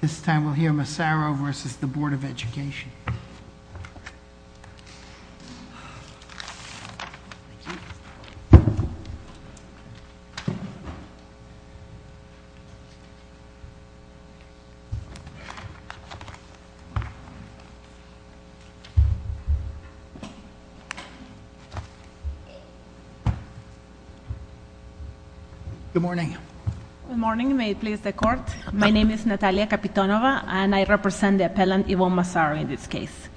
This time we'll hear Massaro versus the Board of Education. Good morning. Good morning. May it please the court. My name is Natalia Capitonova, and I represent the appellant, Yvonne Massaro, in this case.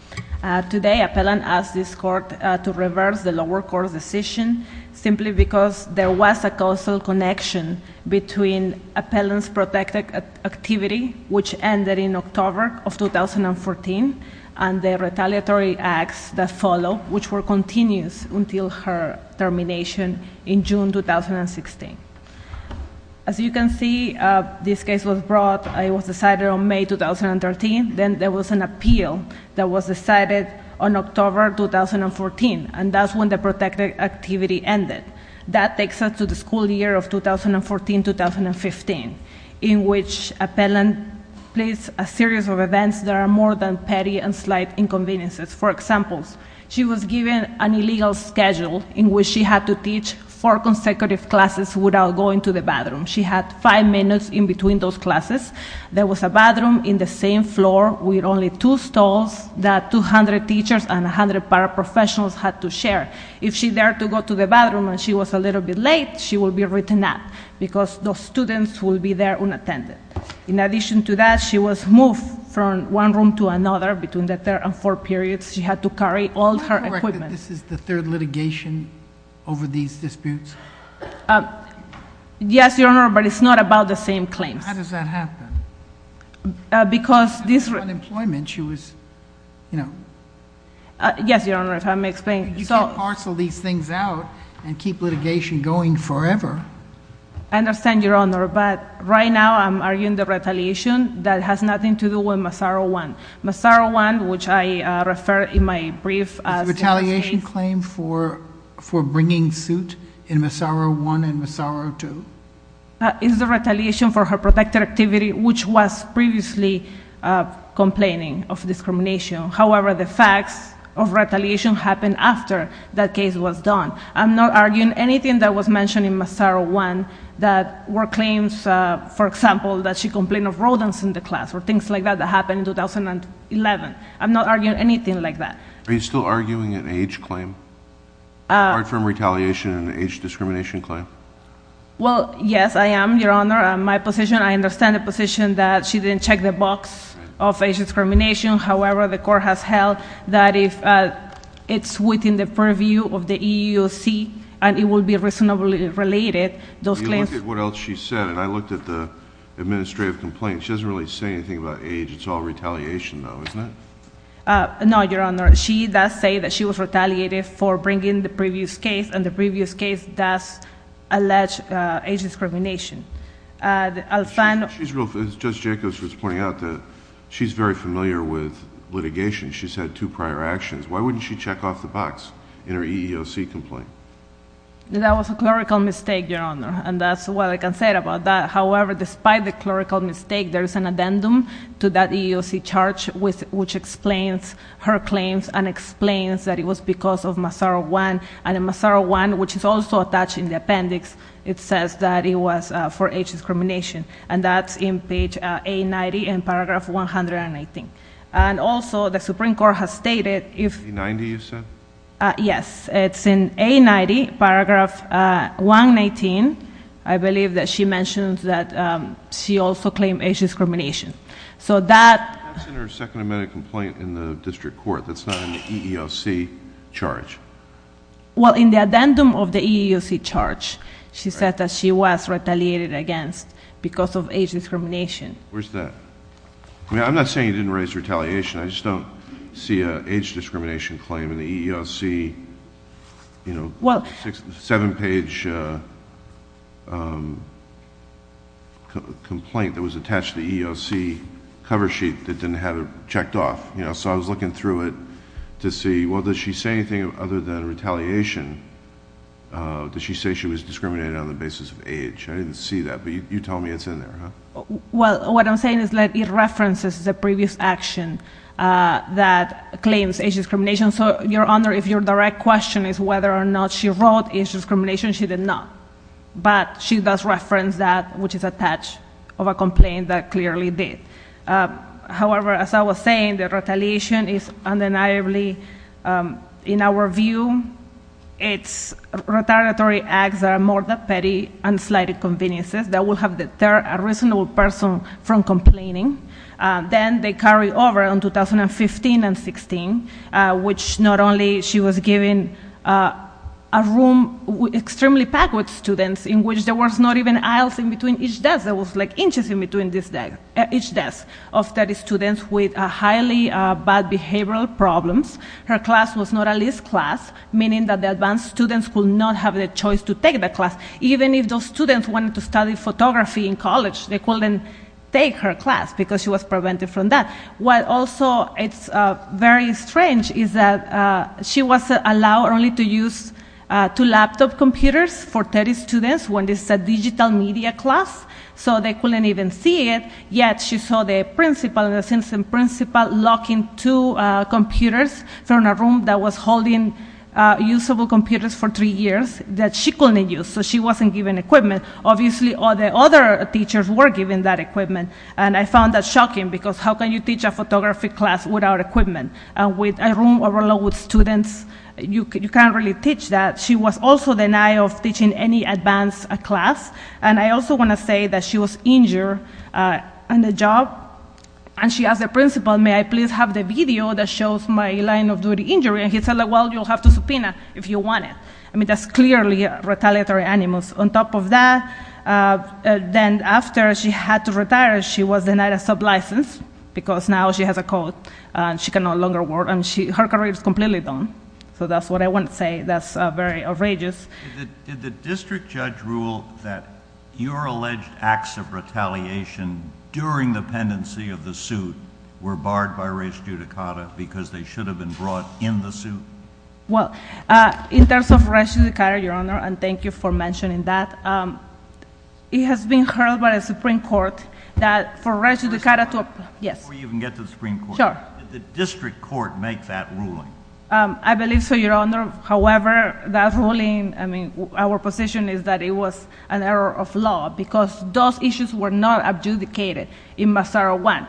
Today, appellant asked this court to reverse the lower court's decision simply because there was a causal connection between appellant's protected activity, which ended in October of 2014, and the retaliatory acts that followed, which were continuous until her termination in June 2016. As you can see, this case was brought. It was decided on May 2013. Then there was an appeal that was decided on October 2014, and that's when the protected activity ended. That takes us to the school year of 2014-2015, in which appellant placed a series of events that are more than petty and slight inconveniences. For example, she was given an illegal schedule in which she had to teach four consecutive classes without going to the bathroom. She had five minutes in between those classes. There was a bathroom in the same floor with only two stalls that 200 teachers and 100 paraprofessionals had to share. If she dared to go to the bathroom and she was a little bit late, she would be written out because those students would be there unattended. In addition to that, she was moved from one room to another between the third and fourth periods. She had to carry all her equipment. Do you recognize that this is the third litigation over these disputes? Yes, Your Honor, but it's not about the same claims. How does that happen? Because this was unemployment. She was, you know. Yes, Your Honor, if I may explain. You can't parcel these things out and keep litigation going forever. I understand, Your Honor, but right now I'm arguing the retaliation that has nothing to do with Massaro I. Massaro I, which I referred in my brief as... Is the retaliation claim for bringing suit in Massaro I and Massaro II? It's the retaliation for her protective activity, which was previously complaining of discrimination. However, the facts of retaliation happened after that case was done. I'm not arguing anything that was mentioned in Massaro I that were claims, for example, that she complained of rodents in the class or things like that that happened in 2011. I'm not arguing anything like that. Are you still arguing an age claim, apart from retaliation and age discrimination claim? Well, yes, I am, Your Honor. My position, I understand the position that she didn't check the box of age discrimination. However, the court has held that if it's within the purview of the EEOC and it will be reasonably related, those claims... Let me look at what else she said, and I looked at the administrative complaint. She doesn't really say anything about age. It's all retaliation, though, isn't it? No, Your Honor. She does say that she was retaliated for bringing the previous case, and the previous case does allege age discrimination. I'll find... She's real... Judge Jacobs was pointing out that she's very familiar with litigation. She's had two prior actions. Why wouldn't she check off the box in her EEOC complaint? That was a clerical mistake, Your Honor, and that's all I can say about that. However, despite the clerical mistake, there's an addendum to that EEOC charge which explains her claims and explains that it was because of Massaro 1, and in Massaro 1, which is also attached in the appendix, it says that it was for age discrimination, and that's in page A90 in paragraph 118. Also, the Supreme Court has stated if... A90, you said? Yes. It's in A90, paragraph 118. I believe that she mentioned that she also claimed age discrimination. So that... That's in her second amendment complaint in the district court. That's not in the EEOC charge. Well, in the addendum of the EEOC charge, she said that she was retaliated against because of age discrimination. Where's that? I mean, I'm not saying you didn't raise retaliation. I just don't see an age discrimination claim in the EEOC seven-page complaint that was attached to the EEOC cover sheet that didn't have it checked off. So I was looking through it to see, well, does she say anything other than retaliation? Does she say she was discriminated on the basis of age? I didn't see that, but you tell me it's in there, huh? Well, what I'm saying is it references the previous action that claims age discrimination. So, Your Honor, if your direct question is whether or not she wrote age discrimination, she did not. But she does reference that, which is attached to a complaint that clearly did. However, as I was saying, the retaliation is undeniably... In our view, it's retaliatory acts that are more than petty and slighted inconveniences that will deter a reasonable person from complaining. Then they carry over in 2015 and 16, which not only she was given a room extremely packed with students, in which there was not even aisles in between each desk. There was, like, inches in between each desk of study students with highly bad behavioral problems. Her class was not a list class, meaning that the advanced students could not have the choice to take the class. Even if those students wanted to study photography in college, they couldn't take her class because she was prevented from that. What also is very strange is that she was allowed only to use two laptop computers for 30 students when this is a digital media class, so they couldn't even see it. Yet, she saw the principal, the assistant principal, locking two computers from a room that was holding usable computers for three years that she couldn't use. She wasn't given equipment. Obviously, all the other teachers were given that equipment, and I found that shocking because how can you teach a photography class without equipment? With a room overloaded with students, you can't really teach that. She was also denied of teaching any advanced class, and I also want to say that she was injured in the job, and she asked the principal, may I please have the video that shows my line-of-duty injury? He said, well, you'll have to subpoena if you want it. That's clearly retaliatory animus. On top of that, then after she had to retire, she was denied a sublicense because now she has a code, and she can no longer work, and her career is completely done. That's what I want to say. That's very outrageous. Did the district judge rule that your alleged acts of retaliation during the pendency of the suit were barred by res judicata because they should have been brought in the suit? Well, in terms of res judicata, Your Honor, and thank you for mentioning that, it has been heard by the Supreme Court that for res judicata... Before you even get to the Supreme Court, did the district court make that ruling? I believe so, Your Honor. However, that ruling, I mean, our position is that it was an error of law because those issues were not adjudicated in Massaro 1.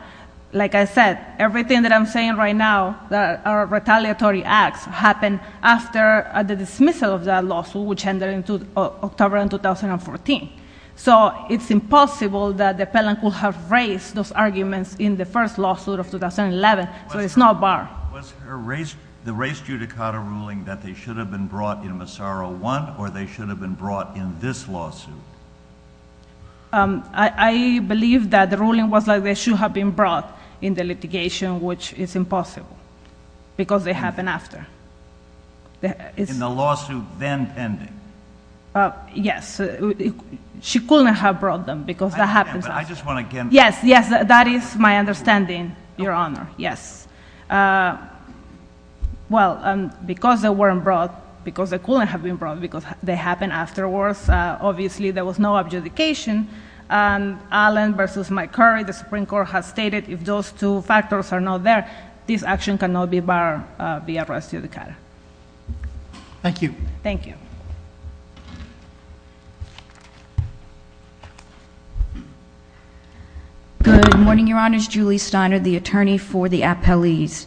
Like I said, everything that I'm saying right now that are retaliatory acts happened after the dismissal of that lawsuit, which ended in October of 2014, so it's impossible that the appellant could have raised those arguments in the first lawsuit of 2011, so it's not barred. Was the res judicata ruling that they should have been brought in Massaro 1, or they should have been brought in this lawsuit? I believe that the ruling was that they should have been brought in the after. In the lawsuit then pending? Yes. She couldn't have brought them because that happens often. I understand, but I just want to get... Yes, yes, that is my understanding, Your Honor, yes. Well, because they weren't brought, because they couldn't have been brought because they happened afterwards, obviously there was no adjudication. Allen versus Mike Curry, the Supreme Court has stated if those two factors are not there, this action cannot be barred via res judicata. Thank you. Thank you. Good morning, Your Honors. Julie Steiner, the attorney for the appellees.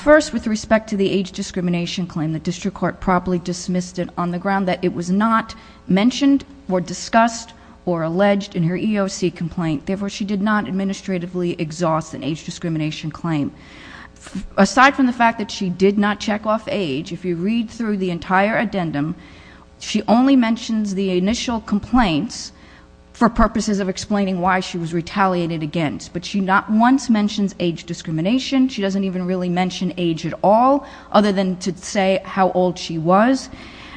First with respect to the age discrimination claim, the district court properly dismissed it on the ground that it was not mentioned or discussed or alleged in her EEOC complaint, therefore she did not administratively exhaust an age discrimination claim. Aside from the fact that she did not check off age, if you read through the entire addendum, she only mentions the initial complaints for purposes of explaining why she was retaliated against, but she not once mentions age discrimination. She doesn't even really mention age at all, other than to say how old she was,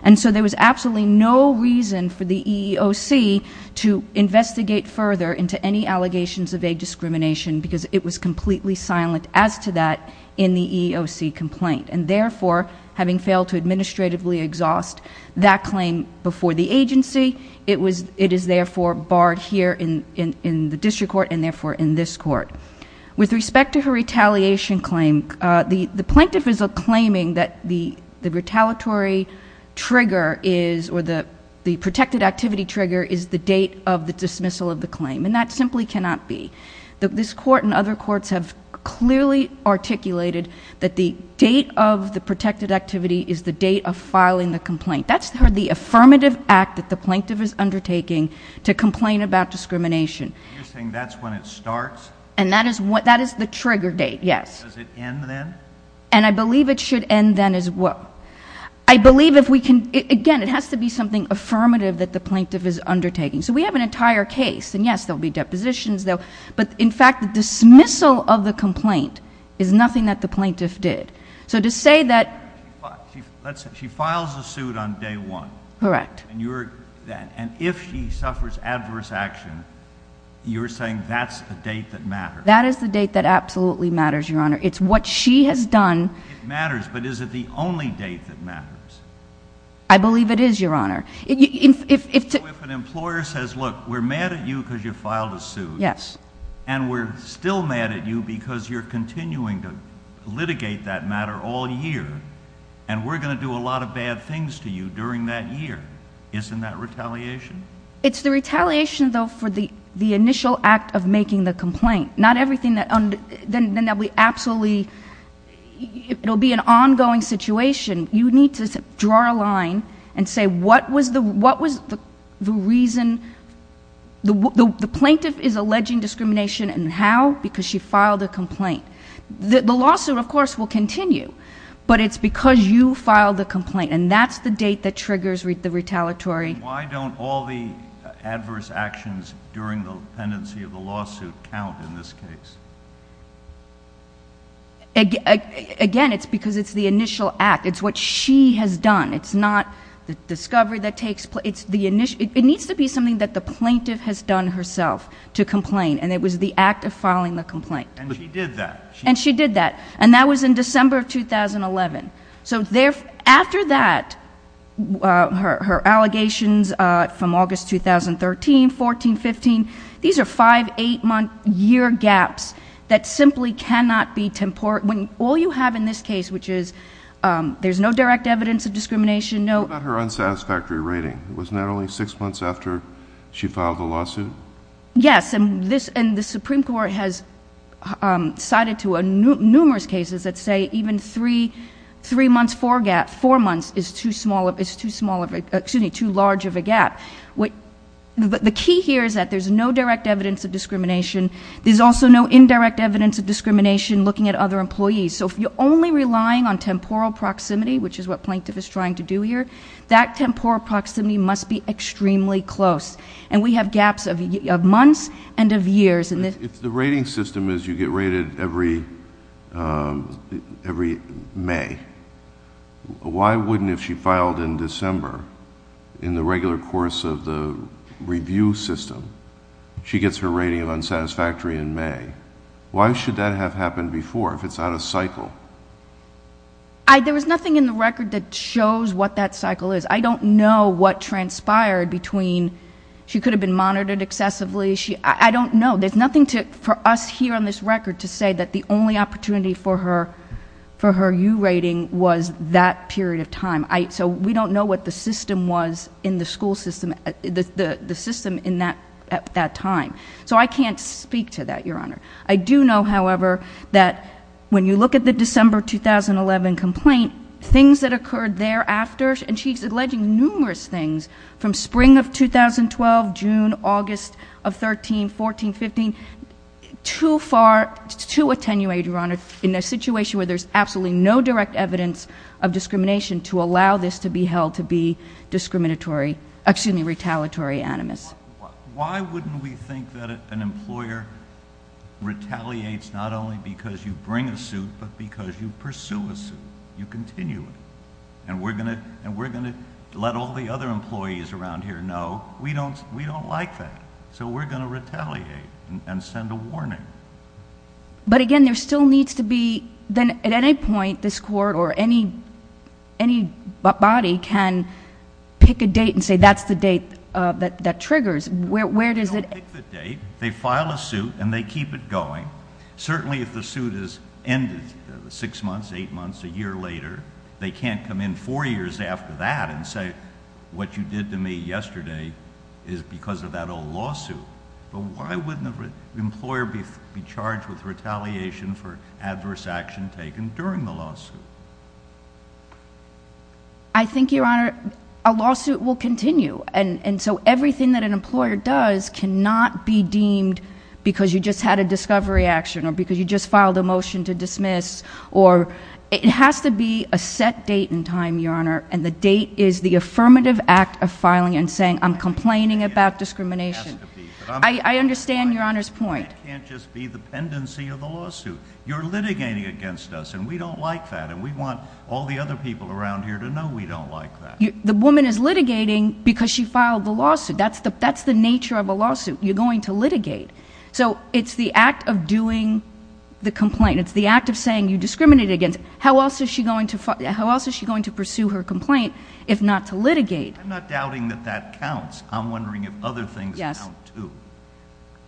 and so there was absolutely no reason for the EEOC to investigate further into any allegations of age discrimination because it was completely silent as to that in the EEOC complaint, and therefore having failed to administratively exhaust that claim before the agency, it is therefore barred here in the district court and therefore in this court. With respect to her retaliation claim, the plaintiff is claiming that the retaliatory trigger is, or the protected activity trigger is the date of the dismissal of the claim, and that simply cannot be. This court and other courts have clearly articulated that the date of the protected activity is the date of filing the complaint. That's the affirmative act that the plaintiff is undertaking to complain about discrimination. You're saying that's when it starts? And that is the trigger date, yes. Does it end then? And I believe it should end then as well. I believe if we can... again, it has to be something affirmative that the plaintiff is undertaking. So we have an entire case, and yes, there will be depositions, but in fact the dismissal of the complaint is nothing that the plaintiff did. So to say that... She files the suit on day one. Correct. And if she suffers adverse action, you're saying that's the date that matters? That is the date that absolutely matters, Your Honor. It's what she has done... It matters, but is it the only date that matters? I believe it is, Your Honor. So if an employer says, look, we're mad at you because you filed a suit... Yes.... and we're still mad at you because you're continuing to litigate that matter all year, and we're going to do a lot of bad things to you during that year, isn't that retaliation? It's the retaliation, though, for the initial act of making the complaint. Not everything that... then there'll be absolutely... it'll be an ongoing situation. You need to draw a line and say what was the reason... the plaintiff is alleging discrimination, and how? Because she filed a complaint. The lawsuit, of course, will continue, but it's because you filed the complaint, and that's the date that triggers the retaliatory... Why don't all the adverse actions during the pendency of the lawsuit count in this case? Again, it's because it's the initial act. It's what she has done. It's not the discovery that takes... it needs to be something that the plaintiff has done herself to complain, and it was the act of filing the complaint. And she did that. And she did that, and that was in December of 2011. So after that, her allegations from August 2013, 14, 15, these are five, eight-month year gaps that simply cannot be... when all you have in this case, which is there's no direct evidence of discrimination, no... What about her unsatisfactory rating? It was not only six months after she filed the lawsuit? Yes, and the Supreme Court has cited to numerous cases that say even three months for a gap, four months is too large of a gap. The key here is that there's no direct evidence of discrimination. There's also no indirect evidence of discrimination looking at other employees. So if you're only relying on temporal proximity, which is what plaintiff is trying to do here, that temporal proximity must be extremely close. And we have gaps of months and of years. If the rating system is you get rated every May, why wouldn't if she filed in December, in the regular course of the review system, she gets her rating of unsatisfactory in May? Why should that have happened before if it's out of cycle? There was nothing in the record that shows what that cycle is. I don't know what transpired between... she could have been monitored excessively. I don't know. There's nothing for us here on this record to say that the only opportunity for her U rating was that period of time. So we don't know what the system was in the school system, the system in that time. So I can't speak to that, Your Honor. I do know, however, that when you look at the December 2011 complaint, things that occurred thereafter... and she's alleging numerous things from spring of 2012, June, August of 13, 14, 15, to attenuate, Your Honor, in a situation where there's absolutely no direct evidence of discrimination to allow this to be held to be retaliatory animus. Why wouldn't we think that an employer retaliates not only because you bring a suit, but because you pursue a suit, you continue it, and we're going to let all the other employees around here know, we don't like that. So we're going to retaliate and send a warning. But again, there still needs to be... at any point, this court or any body can pick a date and say, that's the date that triggers. Where does it... They don't pick the date. They file a suit and they keep it going. Certainly if the suit is ended six months, eight months, a year later, they can't come in four years after that and say, what you did to me yesterday is because of that old lawsuit. But why wouldn't the employer be charged with retaliation for adverse action taken during the lawsuit? I think, Your Honor, a lawsuit will continue. And so everything that an employer does cannot be deemed because you just had a discovery action or because you just filed a motion to dismiss or... It has to be a set date and time, Your Honor, and the date is the affirmative act of filing and saying, I'm complaining about discrimination. I understand Your Honor's point. But it can't just be the pendency of the lawsuit. You're litigating against us and we don't like that and we want all the other people around here to know we don't like that. The woman is litigating because she filed the lawsuit. That's the nature of a lawsuit. You're going to litigate. So it's the act of doing the complaint. It's the act of saying you discriminated against. How else is she going to pursue her complaint if not to litigate? I'm not doubting that that counts. I'm wondering if other things count, too.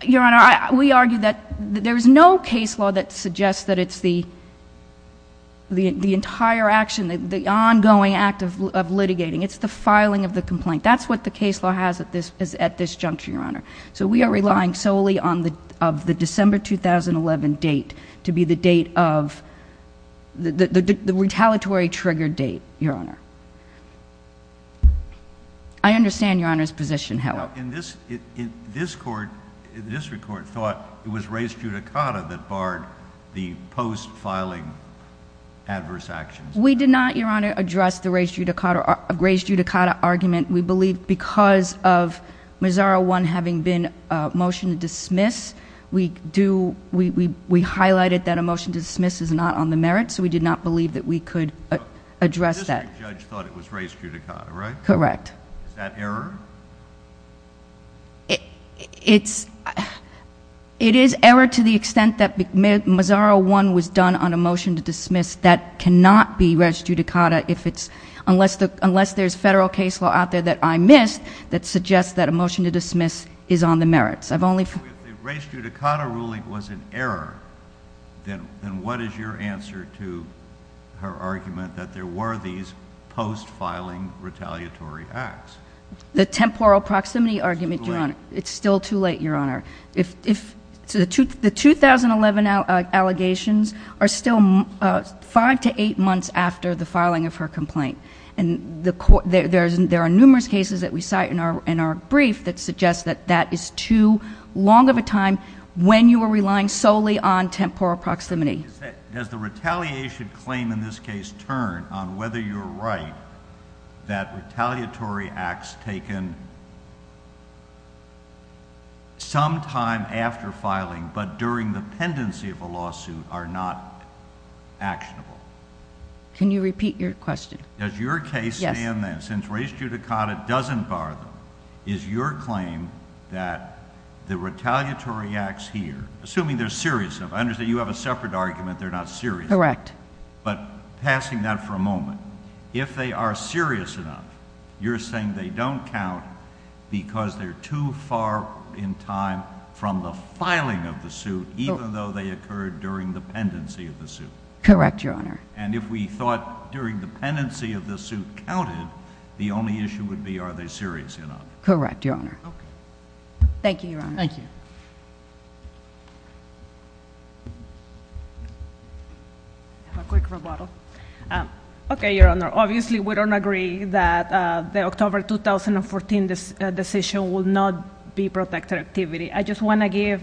Your Honor, we argue that there's no case law that suggests that it's the entire action, the ongoing act of litigating. It's the filing of the complaint. That's what the case law has at this juncture, Your Honor. So we are relying solely on the December 2011 date to be the date of... the retaliatory trigger date, Your Honor. I understand Your Honor's position. In this court, the district court thought it was res judicata that barred the post-filing adverse actions. We did not, Your Honor, address the res judicata argument. We believe because of Missouri 1 having been a motion to dismiss, we highlighted that a motion to dismiss is not on the merits, so we did not believe that we could address that. The district judge thought it was res judicata, right? Correct. Is that error? It is error to the extent that Missouri 1 was done on a motion to dismiss. That cannot be res judicata unless there's federal case law out there that I missed that suggests that a motion to dismiss is on the merits. If the res judicata ruling was an error, then what is your answer to her argument that there were these post-filing retaliatory acts? The temporal proximity argument, Your Honor... It's too late. It's still too late, Your Honor. The 2011 allegations are still five to eight months after the filing of her complaint and there are numerous cases that we cite in our brief that suggest that that is too long of a time when you are relying solely on temporal proximity. Does the retaliation claim in this case turn on whether you're right that retaliatory acts taken sometime after filing but during the pendency of a lawsuit are not actionable? Can you repeat your question? Yes. Does your case stand then, since res judicata doesn't bar them, is your claim that the retaliatory acts here, assuming they're serious... I correct. But passing that for a moment, if they are serious enough, you're saying they don't count because they're too far in time from the filing of the suit even though they occurred during the pendency of the suit? Correct, Your Honor. And if we thought during the pendency of the suit counted, the only issue would be are they serious enough? Correct, Your Honor. Okay. Thank you, Your Honor. Thank you. I have a quick rebuttal. Okay, Your Honor. Obviously we don't agree that the October 2014 decision will not be protected activity. I just want to give,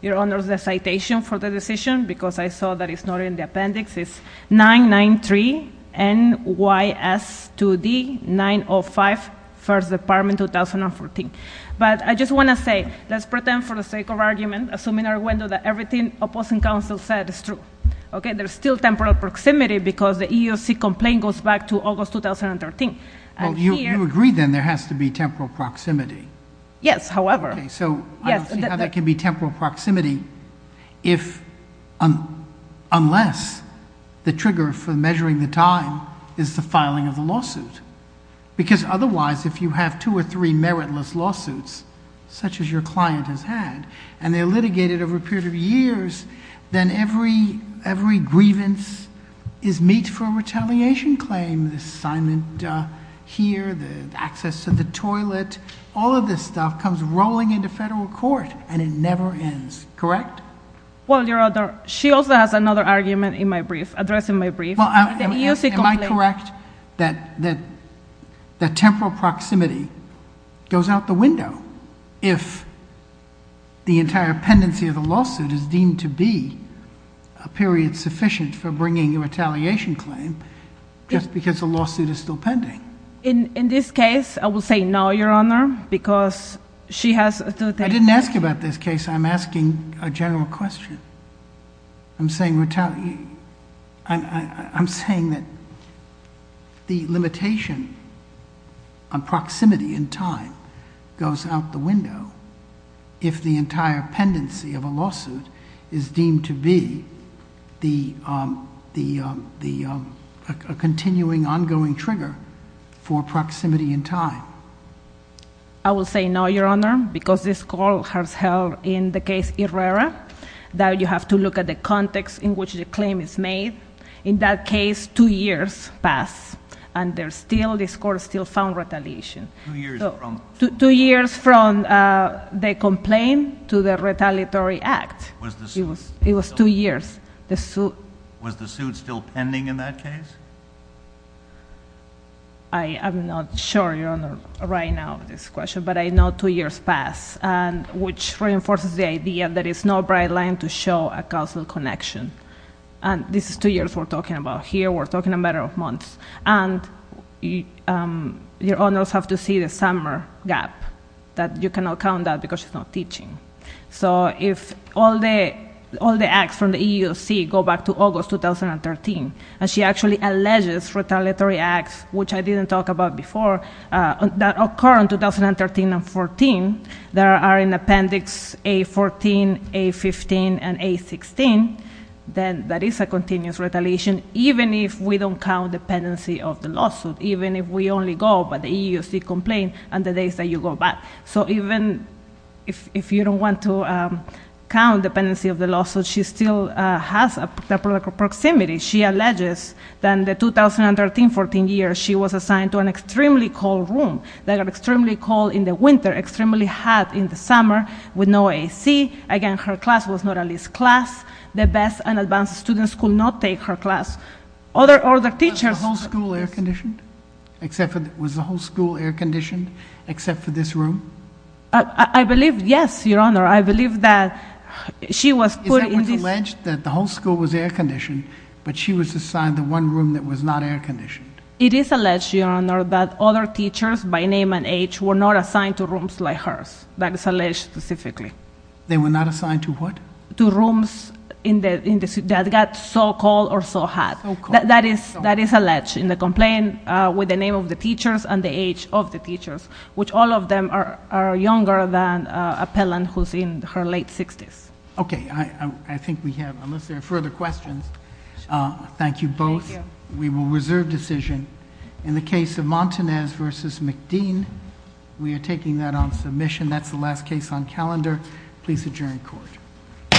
Your Honor, the citation for the decision because I saw that it's not in the appendix. It's 993 N.Y.S. 2D, 905, First Department, 2014. But I just want to say, let's pretend for the sake of argument, assuming our window that everything opposing counsel said is true, okay, there's still temporal proximity because the EEOC complaint goes back to August 2013. Well, you agree then there has to be temporal proximity? Yes, however. Okay. So I don't see how there can be temporal proximity unless the trigger for measuring the time is the filing of the lawsuit. Because otherwise, if you have two or three meritless lawsuits, such as your client has had, and they're litigated over a period of years, then every grievance is meet for a retaliation claim, the assignment here, the access to the toilet, all of this stuff comes rolling into federal court and it never ends. Correct? Well, Your Honor, she also has another argument in my brief, addressing my brief. Well, am I correct that temporal proximity goes out the window if the entire pendency of the lawsuit is deemed to be a period sufficient for bringing a retaliation claim just because the lawsuit is still pending? In this case, I will say no, Your Honor, because she has... I didn't ask you about this case, I'm asking a general question. I'm saying that the limitation on proximity in time goes out the window if the entire pendency of a lawsuit is deemed to be a continuing ongoing trigger for proximity in time. I will say no, Your Honor, because this court has held in the case of Herrera that you have to look at the context in which the claim is made. In that case, two years pass and this court still found retaliation. Two years from the complaint to the retaliatory act. It was two years. Was the suit still pending in that case? I am not sure, Your Honor, right now of this question, but I know two years pass, which reinforces the idea that there is no bright line to show a counsel connection. This is two years we're talking about here. We're talking a matter of months. Your Honors have to see the summer gap. You cannot count that because she's not teaching. If all the acts from the EEOC go back to August 2013 and she actually there are in Appendix A14, A15, and A16, then that is a continuous retaliation, even if we don't count the pendency of the lawsuit. Even if we only go by the EEOC complaint and the days that you go back. So even if you don't want to count the pendency of the lawsuit, she still has a temporal proximity. She alleges that in the 2013-14 years, she was assigned to an extremely cold room. They are extremely cold in the winter, extremely hot in the summer with no AC. Again, her class was not at least class. The best and advanced students could not take her class. Other teachers... Was the whole school air-conditioned except for this room? I believe, yes, Your Honor. I believe that she was put in this... Is that what's alleged? That the whole school was air-conditioned, but she was assigned to one room that was not air-conditioned? It is alleged, Your Honor, that other teachers by name and age were not assigned to rooms like hers. That is alleged specifically. They were not assigned to what? To rooms that got so cold or so hot. That is alleged in the complaint with the name of the teachers and the age of the teachers, which all of them are younger than appellant who's in her late 60s. Okay. I think we have... Unless there are further questions, thank you both. We will reserve decision. In the case of Montanez v. McDean, we are taking that on submission. That's the last case on calendar. Please adjourn the court.